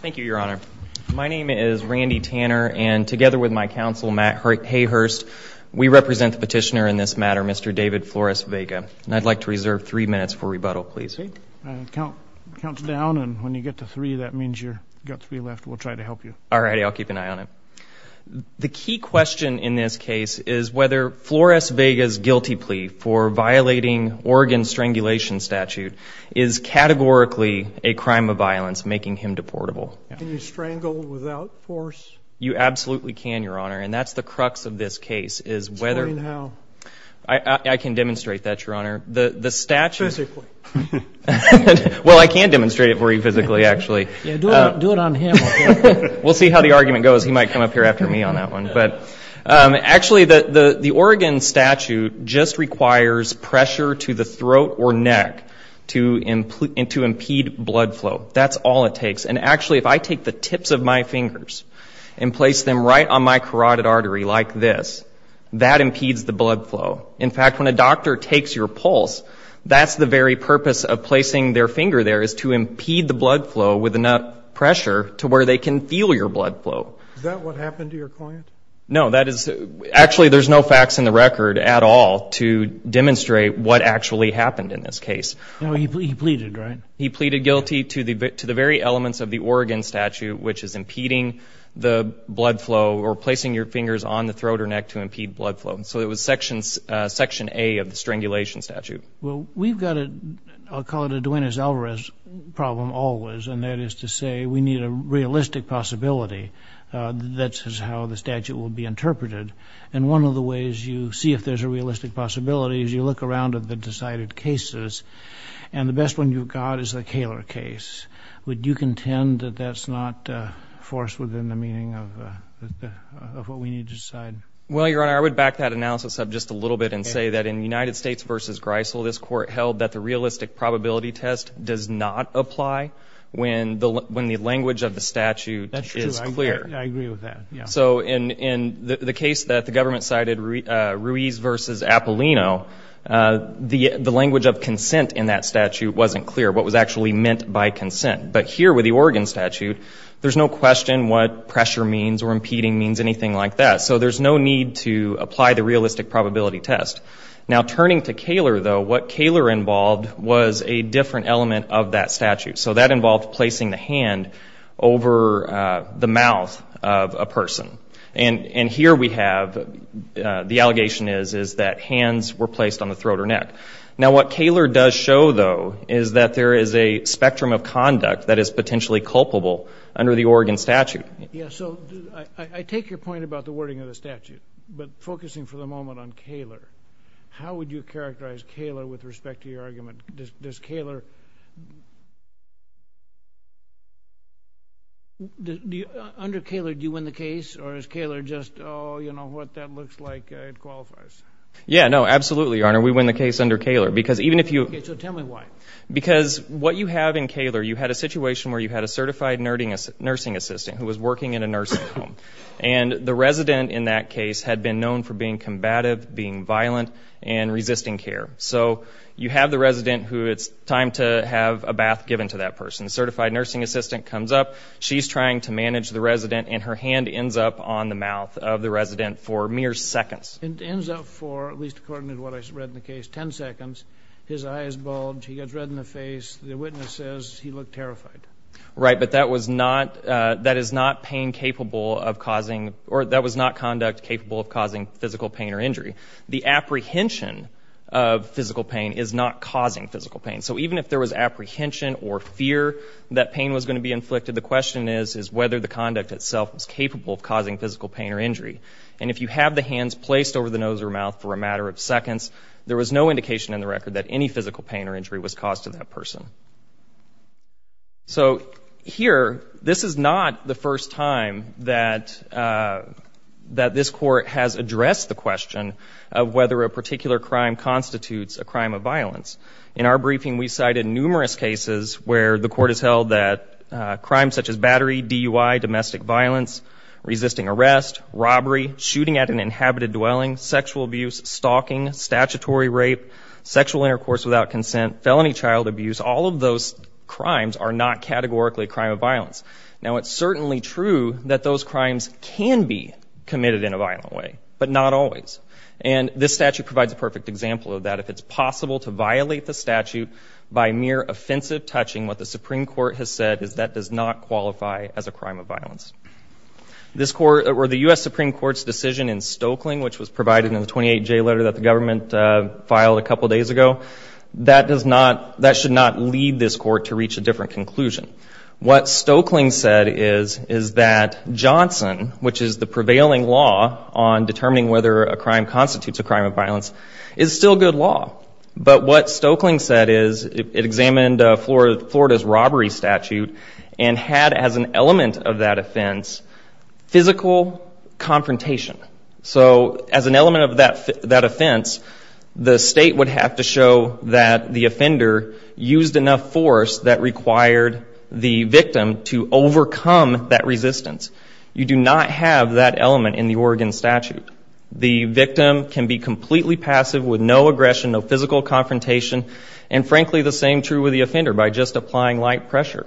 Thank you, Your Honor. My name is Randy Tanner, and together with my counsel, Matt Hayhurst, we represent the petitioner in this matter, Mr. David Flores-Vega. And I'd like to reserve three minutes for rebuttal, please. Count down, and when you get to three, that means you've got three left. We'll try to help you. All right. I'll keep an eye on it. The key question in this case is whether Flores-Vega's guilty plea for violating Oregon's strangulation statute is categorically a crime of violence, making him deportable. Can you strangle without force? You absolutely can, Your Honor. And that's the crux of this case, is whether Explain how. I can demonstrate that, Your Honor. The statute Physically. Well, I can demonstrate it for you physically, actually. Yeah, do it on him, okay? We'll see how the argument goes. He might come up here after me on that one. But actually, the Oregon statute just requires pressure to the throat or neck to impede blood flow. That's all it takes. And actually, if I take the tips of my fingers and place them right on my carotid artery like this, that impedes the blood flow. In fact, when a doctor takes your pulse, that's the very purpose of placing their finger there, is to impede the blood flow with enough pressure to where they can feel your blood flow. Is that what happened to your client? No. Actually, there's no facts in the record at all to demonstrate what actually happened in this case. No, he pleaded, right? He pleaded guilty to the very elements of the Oregon statute, which is impeding the blood flow, or placing your fingers on the throat or neck to impede blood flow. So it was Section A of the strangulation statute. Well, we've got a, I'll call it a Duenas-Alvarez problem always, and that is to say we need a realistic possibility. That's how the statute will be interpreted. And one of the ways you see if there's a realistic possibility is you look around at the decided cases, and the best one you've got is the Koehler case. Would you contend that that's not a force within the meaning of what we need to decide? Well, Your Honor, I would back that analysis up just a little bit and say that in United States v. Greisel, this Court held that the realistic probability test does not apply when the language of the statute is clear. That's true. I agree with that, yeah. So in the case that the government cited, Ruiz v. Apollino, the language of consent in that statute wasn't clear, what was actually meant by consent. But here with the Oregon statute, there's no question what pressure means or impeding means, anything like that. So there's no need to apply the realistic probability test. Now turning to Koehler, though, what Koehler involved was a different element of that statute. So that involved placing the hand over the mouth of a person. And here we have, the allegation is that hands were placed on the throat or neck. Now what Koehler does show, though, is that there is a spectrum of conduct that is potentially culpable under the Oregon statute. Yeah, so I take your point about the wording of the statute, but focusing for the moment on Koehler, how would you characterize Koehler with respect to your argument? Does Koehler – under Koehler, do you win the case? Or is Koehler just, oh, you know, what that looks like, it qualifies? Yeah, no, absolutely, Your Honor. We win the case under Koehler. So tell me why. Because what you have in Koehler, you had a situation where you had a certified nursing assistant who was working in a nursing home. And the resident in that case had been known for being combative, being violent, and resisting care. So you have the resident who it's time to have a bath given to that person. The certified nursing assistant comes up. She's trying to manage the resident, and her hand ends up on the mouth of the resident for mere seconds. It ends up for, at least according to what I read in the case, 10 seconds. His eye is bulged. He gets red in the face. The witness says he looked terrified. Right, but that was not – that is not pain capable of causing – or that was not conduct capable of causing physical pain or injury. The apprehension of physical pain is not causing physical pain. So even if there was apprehension or fear that pain was going to be inflicted, the question is, is whether the conduct itself was capable of causing physical pain or injury. And if you have the hands placed over the nose or mouth for a matter of seconds, there was no indication in the record that any physical pain or injury was caused to that person. So here, this is not the first time that this Court has addressed the question of whether a particular crime constitutes a crime of violence. In our briefing, we cited numerous cases where the Court has held that crimes such as battery, DUI, domestic violence, resisting arrest, robbery, shooting at an inhabited dwelling, sexual abuse, stalking, statutory rape, sexual intercourse without consent, felony child abuse – all of those crimes are not categorically a crime of violence. Now it's certainly true that those crimes can be committed in a violent way, but not always. And this statute provides a perfect example of that. If it's possible to violate the statute by mere offensive touching, what the Supreme Court has said is that does not qualify as a crime of violence. The U.S. Supreme Court's decision in Stokeling, which was provided in the 28J letter that the government filed a couple of days ago, that should not lead this Court to reach a different conclusion. What Stokeling said is that Johnson, which is the prevailing law on determining whether a crime constitutes a crime of violence, is still good law. But what Stokeling said is it examined Florida's robbery statute and had as an element of that offense physical confrontation. So as an element of that offense, the state would have to show that the offender used enough force that required the victim to overcome that resistance. You do not have that element in the Oregon statute. The victim can be completely passive with no aggression, no physical confrontation. And frankly, the same is true with the offender by just applying light pressure.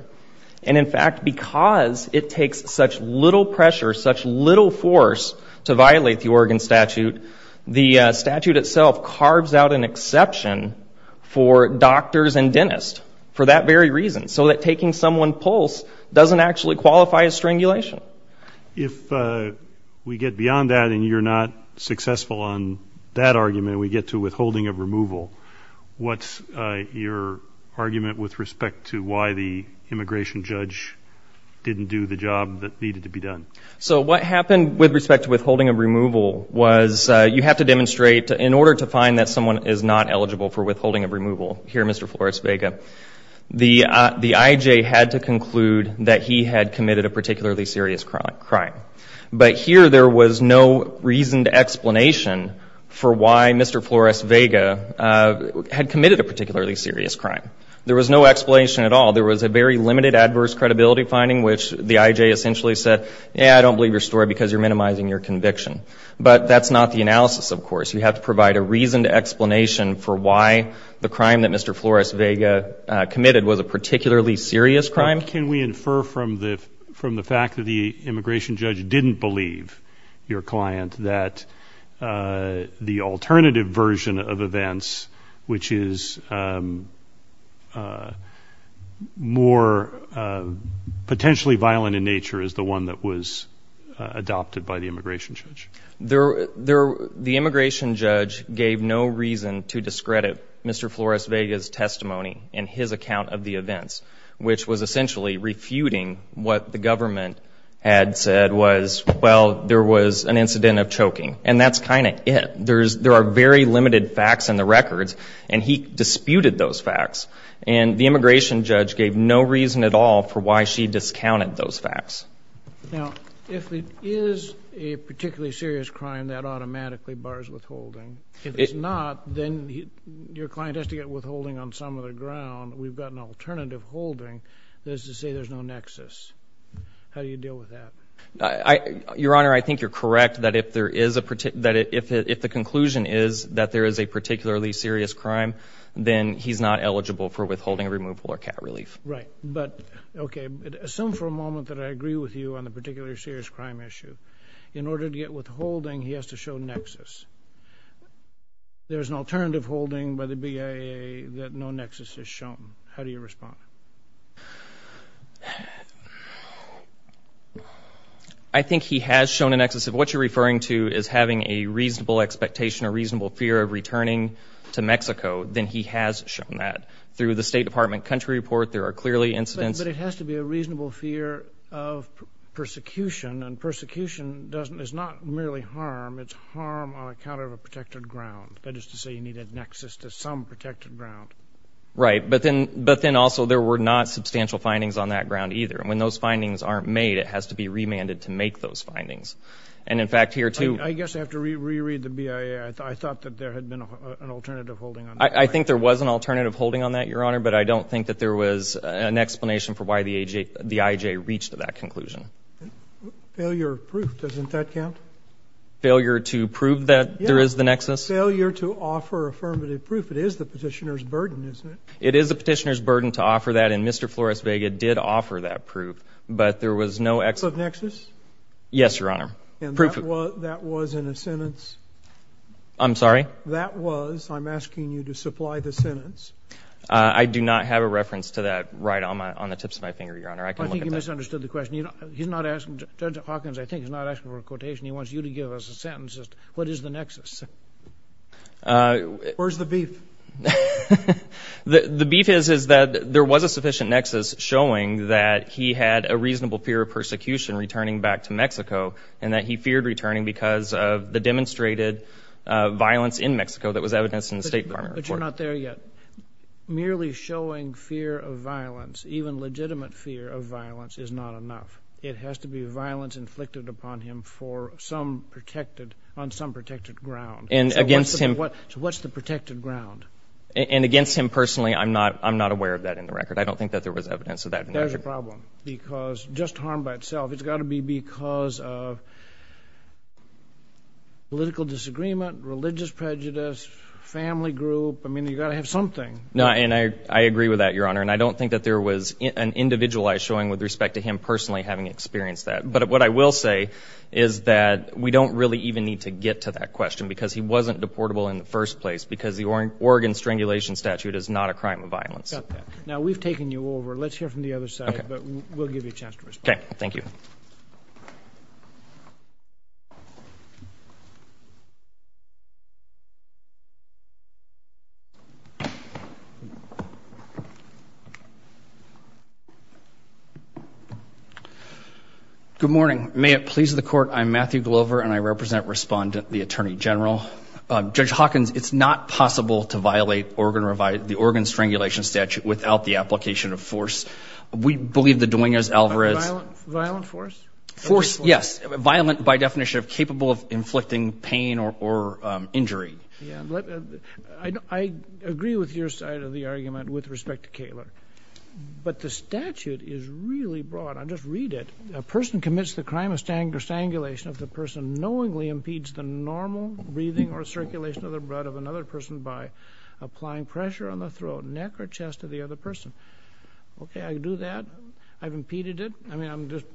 And in fact, because it takes such little pressure, such little force to violate the Oregon statute, the statute itself carves out an exception for doctors and dentists for that very reason, so that taking someone's pulse doesn't actually qualify as strangulation. If we get beyond that and you're not successful on that argument, we get to withholding of removal, what's your argument with respect to why the immigration judge didn't do the job that needed to be done? So what happened with respect to withholding of removal was you have to demonstrate in order to find that someone is not eligible for withholding of removal, here Mr. Flores-Vega, the I.J. had to conclude that he had committed a particularly serious crime. But here there was no reasoned explanation for why Mr. Flores-Vega had committed a particularly serious crime. There was no explanation at all. There was a very limited adverse credibility finding which the I.J. essentially said, yeah, I don't believe your story because you're minimizing your conviction. But that's not the analysis, of course. You have to provide a reasoned explanation for why the crime that Mr. Flores-Vega committed was a particularly serious crime. Can we infer from the fact that the immigration judge didn't believe your client that the alternative version of events, which is more potentially violent in nature, is the one that was adopted by the immigration judge? The immigration judge gave no reason to discredit Mr. Flores-Vega's testimony in his account of the events, which was essentially refuting what the government had said was, well, there was an incident of choking. And that's kind of it. There are very limited facts in the records and he disputed those facts. And the immigration judge gave no reason at all for why she discounted those facts. Now, if it is a particularly serious crime, that automatically bars withholding. If it's not, then your client has to get withholding on some other ground. We've got an alternative holding that is to say there's no nexus. How do you deal with that? Your Honor, I think you're correct that if the conclusion is that there is a particularly serious crime, then he's not eligible for withholding removal or cat relief. Right. But, okay, assume for a moment that I agree with you on the particularly serious crime issue. In order to get withholding, he has to show nexus. There's an alternative holding by the BIA that no nexus is shown. How do you respond? I think he has shown a nexus. If what you're referring to is having a reasonable expectation or reasonable fear of returning to Mexico, then he has shown that. Through the State Department country report, there are clearly incidents. But it has to be a reasonable fear of persecution. And persecution is not merely harm. It's harm on account of a protected ground. That is to say you need a nexus to some protected ground. Right. But then also there were not substantial findings on that ground either. And when those findings aren't made, it has to be remanded to make those findings. And, in fact, here too — I guess I have to reread the BIA. I thought that there had been an alternative holding on that. I think there was an alternative holding on that, Your Honor. But I don't think that there was an explanation for why the IJ reached that conclusion. Failure of proof. Doesn't that count? Failure to prove that there is the nexus? Yes. Failure to offer affirmative proof. It is the petitioner's burden, isn't it? It is the petitioner's burden to offer that. And Mr. Flores Vega did offer that proof. But there was no — Proof of nexus? Yes, Your Honor. Proof — And that was in a sentence? I'm sorry? That was — I'm asking you to supply the sentence. I do not have a reference to that right on the tips of my finger, Your Honor. I can look at that. I think you misunderstood the question. He's not asking — Judge Hawkins, I think, is not asking for a quotation. He wants you to give us a sentence. What is the nexus? Where's the beef? The beef is that there was a sufficient nexus showing that he had a reasonable fear of persecution returning back to Mexico, and that he feared returning because of the demonstrated violence in Mexico that was evidenced in the State Department report. But you're not there yet. Merely showing fear of violence, even legitimate fear of violence, is not enough. It has to be violence inflicted upon him for some protected — on some protected ground. And against him — So what's the protected ground? And against him personally, I'm not aware of that in the record. I don't think that there was evidence of that in the record. Well, there's a problem, because — just harm by itself. It's got to be because of political disagreement, religious prejudice, family group. I mean, you got to have something. And I agree with that, Your Honor. And I don't think that there was an individualized showing with respect to him personally having experienced that. But what I will say is that we don't really even need to get to that question, because he wasn't deportable in the first place, because the Oregon strangulation statute is not a crime of violence. Now, we've taken you over. Let's hear from the other side, but we'll give you a chance to respond. Okay. Thank you. Good morning. May it please the Court, I'm Matthew Glover, and I represent Respondent the Attorney General. Judge Hawkins, it's not possible to violate the Oregon strangulation statute without the application of force. We believe the Dwingers, Alvarez — Violent force? Force, yes. Violent, by definition, capable of inflicting pain or injury. I agree with your side of the argument with respect to Kaler. But the statute is really broad. I'll just read it. A person commits the crime of strangulation if the person knowingly impedes the normal breathing or circulation of the breath of another person by applying pressure on the throat, neck, or chest of the other person. Okay, I do that. I've impeded it. I mean, I'm just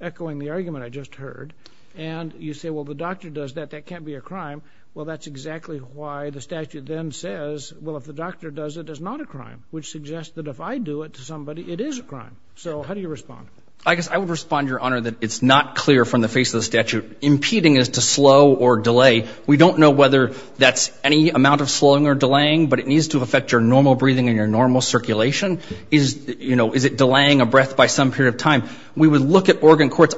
echoing the argument I just heard. And you say, well, the doctor does that. That can't be a crime. Well, that's exactly why the statute then says, well, if the doctor does it, it's not a crime, which suggests that if I do it to somebody, it is a crime. So how do you respond? I guess I would respond, Your Honor, that it's not clear from the face of the statute. Impeding is to slow or delay. We don't know whether that's any amount of slowing or delaying, but it needs to affect your normal breathing and your normal circulation. Is it delaying a breath by some period of time? We would look at organ courts.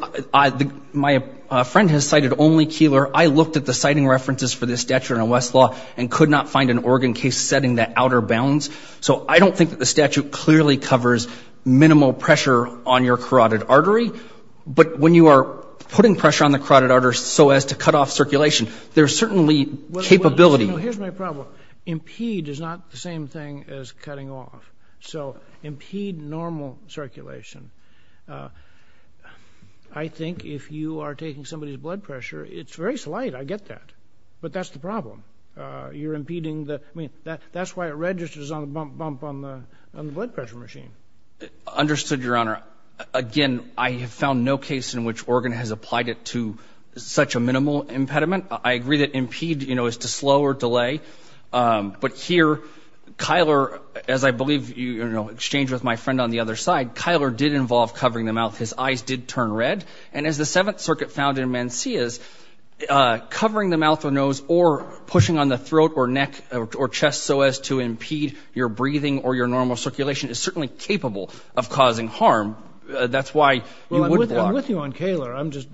My friend has cited only Kaler. I looked at the citing references for this statute in Westlaw and could not find an organ case setting that outer bounds. So I don't think that the statute clearly covers minimal pressure on your carotid artery. But when you are putting pressure on the carotid artery so as to cut off circulation, there's certainly capability. Well, here's my problem. Impede is not the same thing as cutting off. So impede normal circulation. I think if you are taking somebody's blood pressure, it's very slight. I get that. But that's the problem. You're impeding the, I mean, that's why it registers on the bump on the blood pressure machine. Understood, Your Honor. Again, I have found no case in which organ has applied it to such a minimal impediment. I agree that impede, you know, is to slow or delay. But here, Kaler, as I believe, you know, exchanged with my friend on the other side, Kaler did involve covering the mouth. His eyes did turn red. And as the Seventh Circuit found in Mancias, covering the mouth or nose or pushing on the throat or neck or chest so as to impede your capable of causing harm, that's why you wouldn't block. Well, I'm with you on Kaler. I'm just,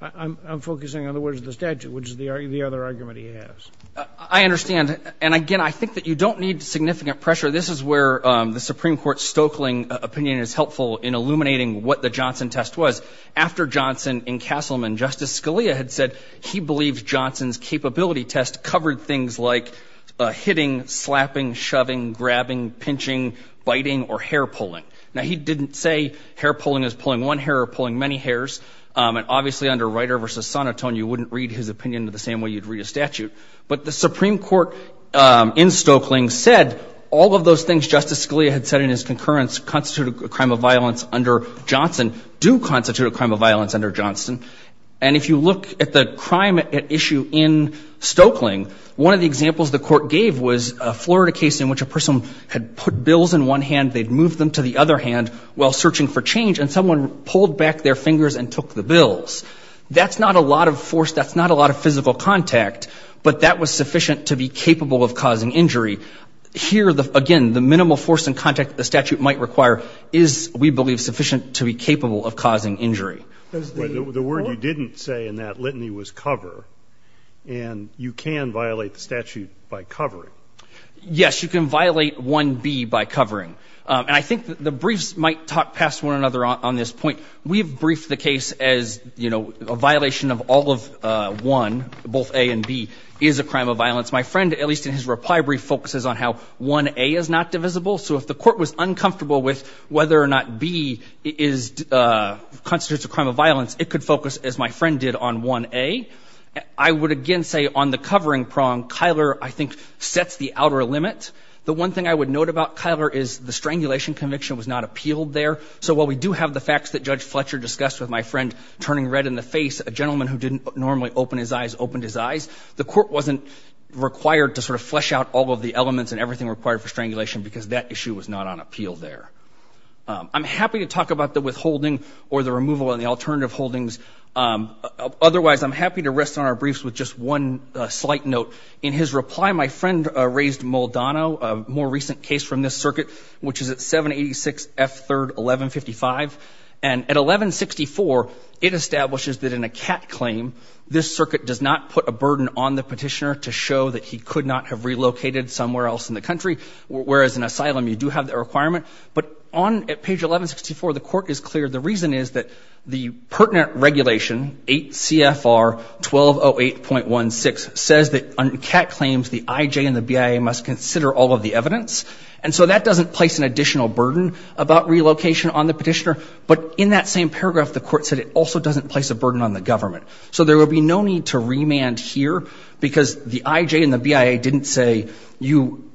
I'm focusing on the words of the statute, which is the other argument he has. I understand. And again, I think that you don't need significant pressure. This is where the Supreme Court Stoeckling opinion is helpful in illuminating what the Johnson test was. After Johnson in Castleman, Justice Scalia had said he believed Johnson's capability test covered things like hitting, slapping, shoving, grabbing, pinching, biting, or hair pulling. Now, he didn't say hair pulling is pulling one hair or pulling many hairs. And obviously under Reiter v. Sonotone, you wouldn't read his opinion the same way you'd read a statute. But the Supreme Court in Stoeckling said all of those things Justice Scalia had said in his concurrence constituted a crime of violence under Johnson do constitute a crime of violence under Johnson. And if you look at the crime at issue in Stoeckling, one of the examples the Court gave was a Florida case in which a person had put bills in one hand, they'd moved them to the other hand while searching for change, and someone pulled back their fingers and took the bills. That's not a lot of force. That's not a lot of physical contact. But that was sufficient to be capable of causing injury. Here, again, the minimal force and contact the statute might require is, we believe, sufficient to be capable of causing injury. The word you didn't say in that litany was cover. And you can violate the statute by covering. Yes, you can violate 1B by covering. And I think the briefs might talk past one another on this point. We've briefed the case as, you know, a violation of all of 1, both A and B, is a crime of violence. My friend, at least in his reply brief, focuses on how 1A is not divisible. So if the Court was uncomfortable with whether or not B is — constitutes a crime of violence, it could focus, as my friend did, on 1A. I would, again, say on the covering prong, Kyler, I think, sets the outer limit. The one thing I would note about Kyler is the strangulation conviction was not appealed there. So while we do have the facts that Judge Fletcher discussed with my friend turning red in the face, a gentleman who didn't normally open his eyes opened his eyes, the Court wasn't required to sort of flesh out all of the elements and everything required for strangulation because that issue was not on appeal there. I'm happy to talk about the withholding or the removal and the alternative holdings. Otherwise, I'm happy to rest on our briefs with just one slight note. In his reply, my friend raised Moldano, a more recent case from this circuit, which is at 786 F. 3rd, 1155. And at 1164, it establishes that in a CAT claim, this circuit does not put a burden on the petitioner to show that he could not have relocated somewhere else in the country, whereas in asylum, you do have that requirement. But on page 1164, the Court is clear. The reason is that the pertinent regulation, 8 CFR 1208.16, says that on CAT claims, the I.J. and the BIA must consider all of the evidence. And so that doesn't place an additional burden about relocation on the petitioner. But in that same paragraph, the Court said it also doesn't place a burden on the government. So there will be no need to remand here, because the I.J. and the BIA didn't say, you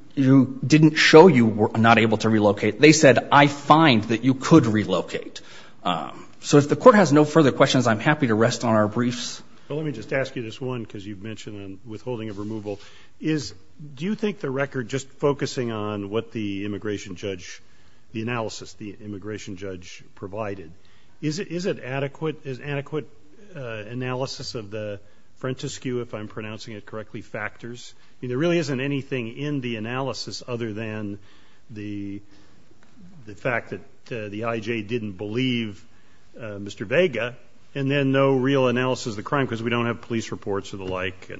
didn't show you were not able to relocate. They said, I find that you could relocate. So if the Court has no further questions, I'm happy to rest on our briefs. Well, let me just ask you this one, because you've mentioned on withholding of removal. Do you think the record just focusing on what the immigration judge, the analysis the immigration judge provided, is it adequate? Is adequate analysis of the Frentescue, if I'm pronouncing it correctly, factors? I mean, there really isn't anything in the analysis other than the fact that the I.J. didn't believe Mr. Vega, and then no real analysis of the crime, because we don't have police reports or the like.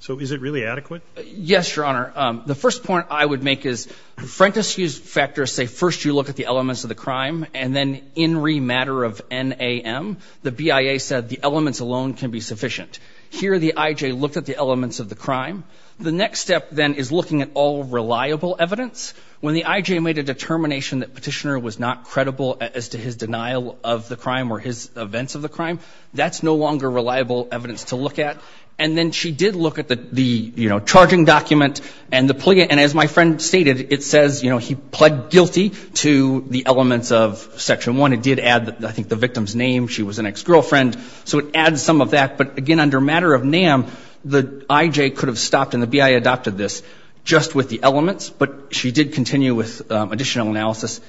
So is it really adequate? Yes, Your Honor. The first point I would make is Frentescue's factors say first you look at the elements of the crime, and then in re matter of NAM, the BIA said the elements alone can be sufficient. Here the I.J. looked at the elements of the crime. The next step then is looking at all reliable evidence. When the I.J. made a determination that Petitioner was not credible as to his denial of the crime or his events of the crime, that's no longer reliable evidence to look at. And then she did look at the, you know, charging document and the plea. And as my friend stated, it says, you know, he pled guilty to the elements of Section 1. It did add, I think, the victim's name. She was an ex-girlfriend. So it adds some of that. But again, under matter of NAM, the I.J. could have stopped and the BIA adopted this just with the elements. But she did continue with additional analysis.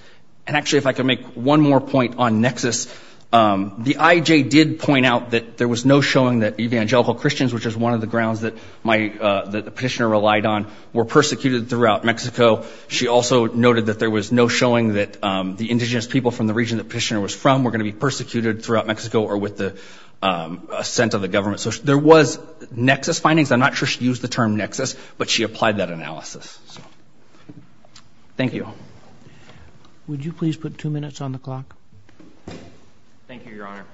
And actually, if I could make one more point on nexus. The I.J. did point out that there was no showing that evangelical Christians, which is one of the grounds that my, that Petitioner relied on, were persecuted throughout Mexico. She also noted that there was no showing that the indigenous people from the region that Petitioner was from were going to be persecuted throughout Mexico or with the assent of the government. So there was nexus findings. I'm not sure she used the term nexus, but she applied that analysis. So, thank you. Would you please put two minutes on the clock? Thank you, Your Honor.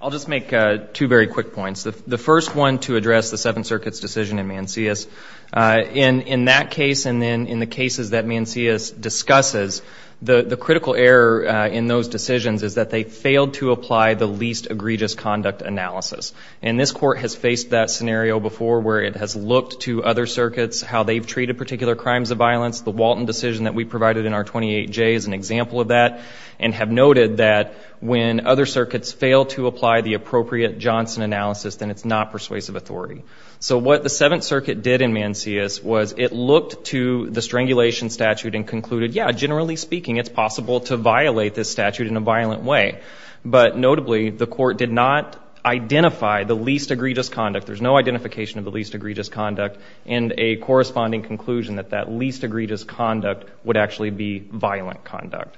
I'll just make two very quick points. The first one to address the Seventh Circuit's decision in Mancius. In that case and then in the cases that Mancius discusses, the critical error in those decisions is that they failed to apply the least egregious conduct analysis. And this Court has faced that scenario before where it has looked to other circuits, how they've treated particular crimes of violence. The Walton decision that we provided in our 28J is an example of that and have noted that when other circuits fail to apply the appropriate Johnson analysis, then it's not persuasive authority. So what the Seventh Circuit did in Mancius was it looked to the strangulation statute and concluded, yeah, generally speaking, it's possible to violate this statute in a violent way. But notably, the Court did not identify the least egregious conduct. There's no identification of the least egregious conduct and a corresponding conclusion that that least egregious conduct would actually be violent conduct.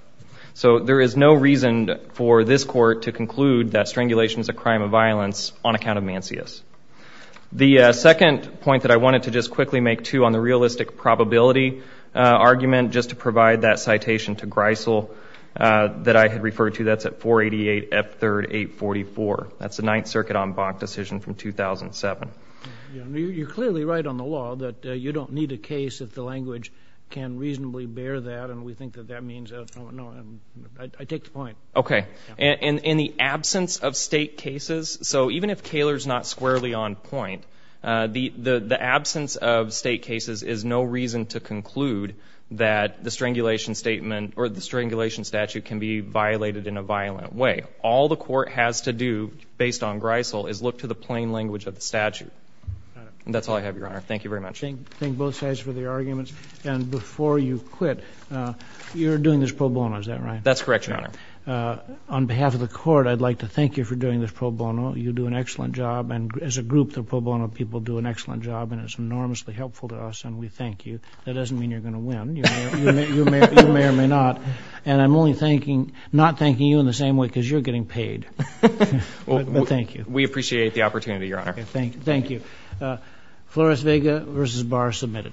So there is no reason for this Court to conclude that strangulation is a crime of violence on account of Mancius. The second point that I wanted to just quickly make, too, on the realistic probability argument, just to provide that citation to Greisel that I had referred to, that's at 488 F. 3rd. 844. That's the Ninth Circuit en banc decision from 2007. You're clearly right on the law that you don't need a case if the language can reasonably bear that, and we think that that means—no, I take the point. Okay. In the absence of State cases—so even if Kaler's not squarely on point, the absence of State cases is no reason to conclude that the strangulation statute can be violated in a violent way. All the Court has to do, based on Greisel, is look to the plain language of the statute. And that's all I have, Your Honor. Thank you very much. Thank both sides for the arguments. And before you quit, you're doing this pro bono, is that right? That's correct, Your Honor. On behalf of the Court, I'd like to thank you for doing this pro bono. You do an excellent job, and as a group, the pro bono people do an excellent job, and it's enormously helpful to us, and we thank you. That doesn't mean you're going to win. You may or may not. And I'm only thanking—not thanking you in the same way, because you're getting paid. Thank you. We appreciate the opportunity, Your Honor. Thank you. Flores-Vega v. Barr, submitted.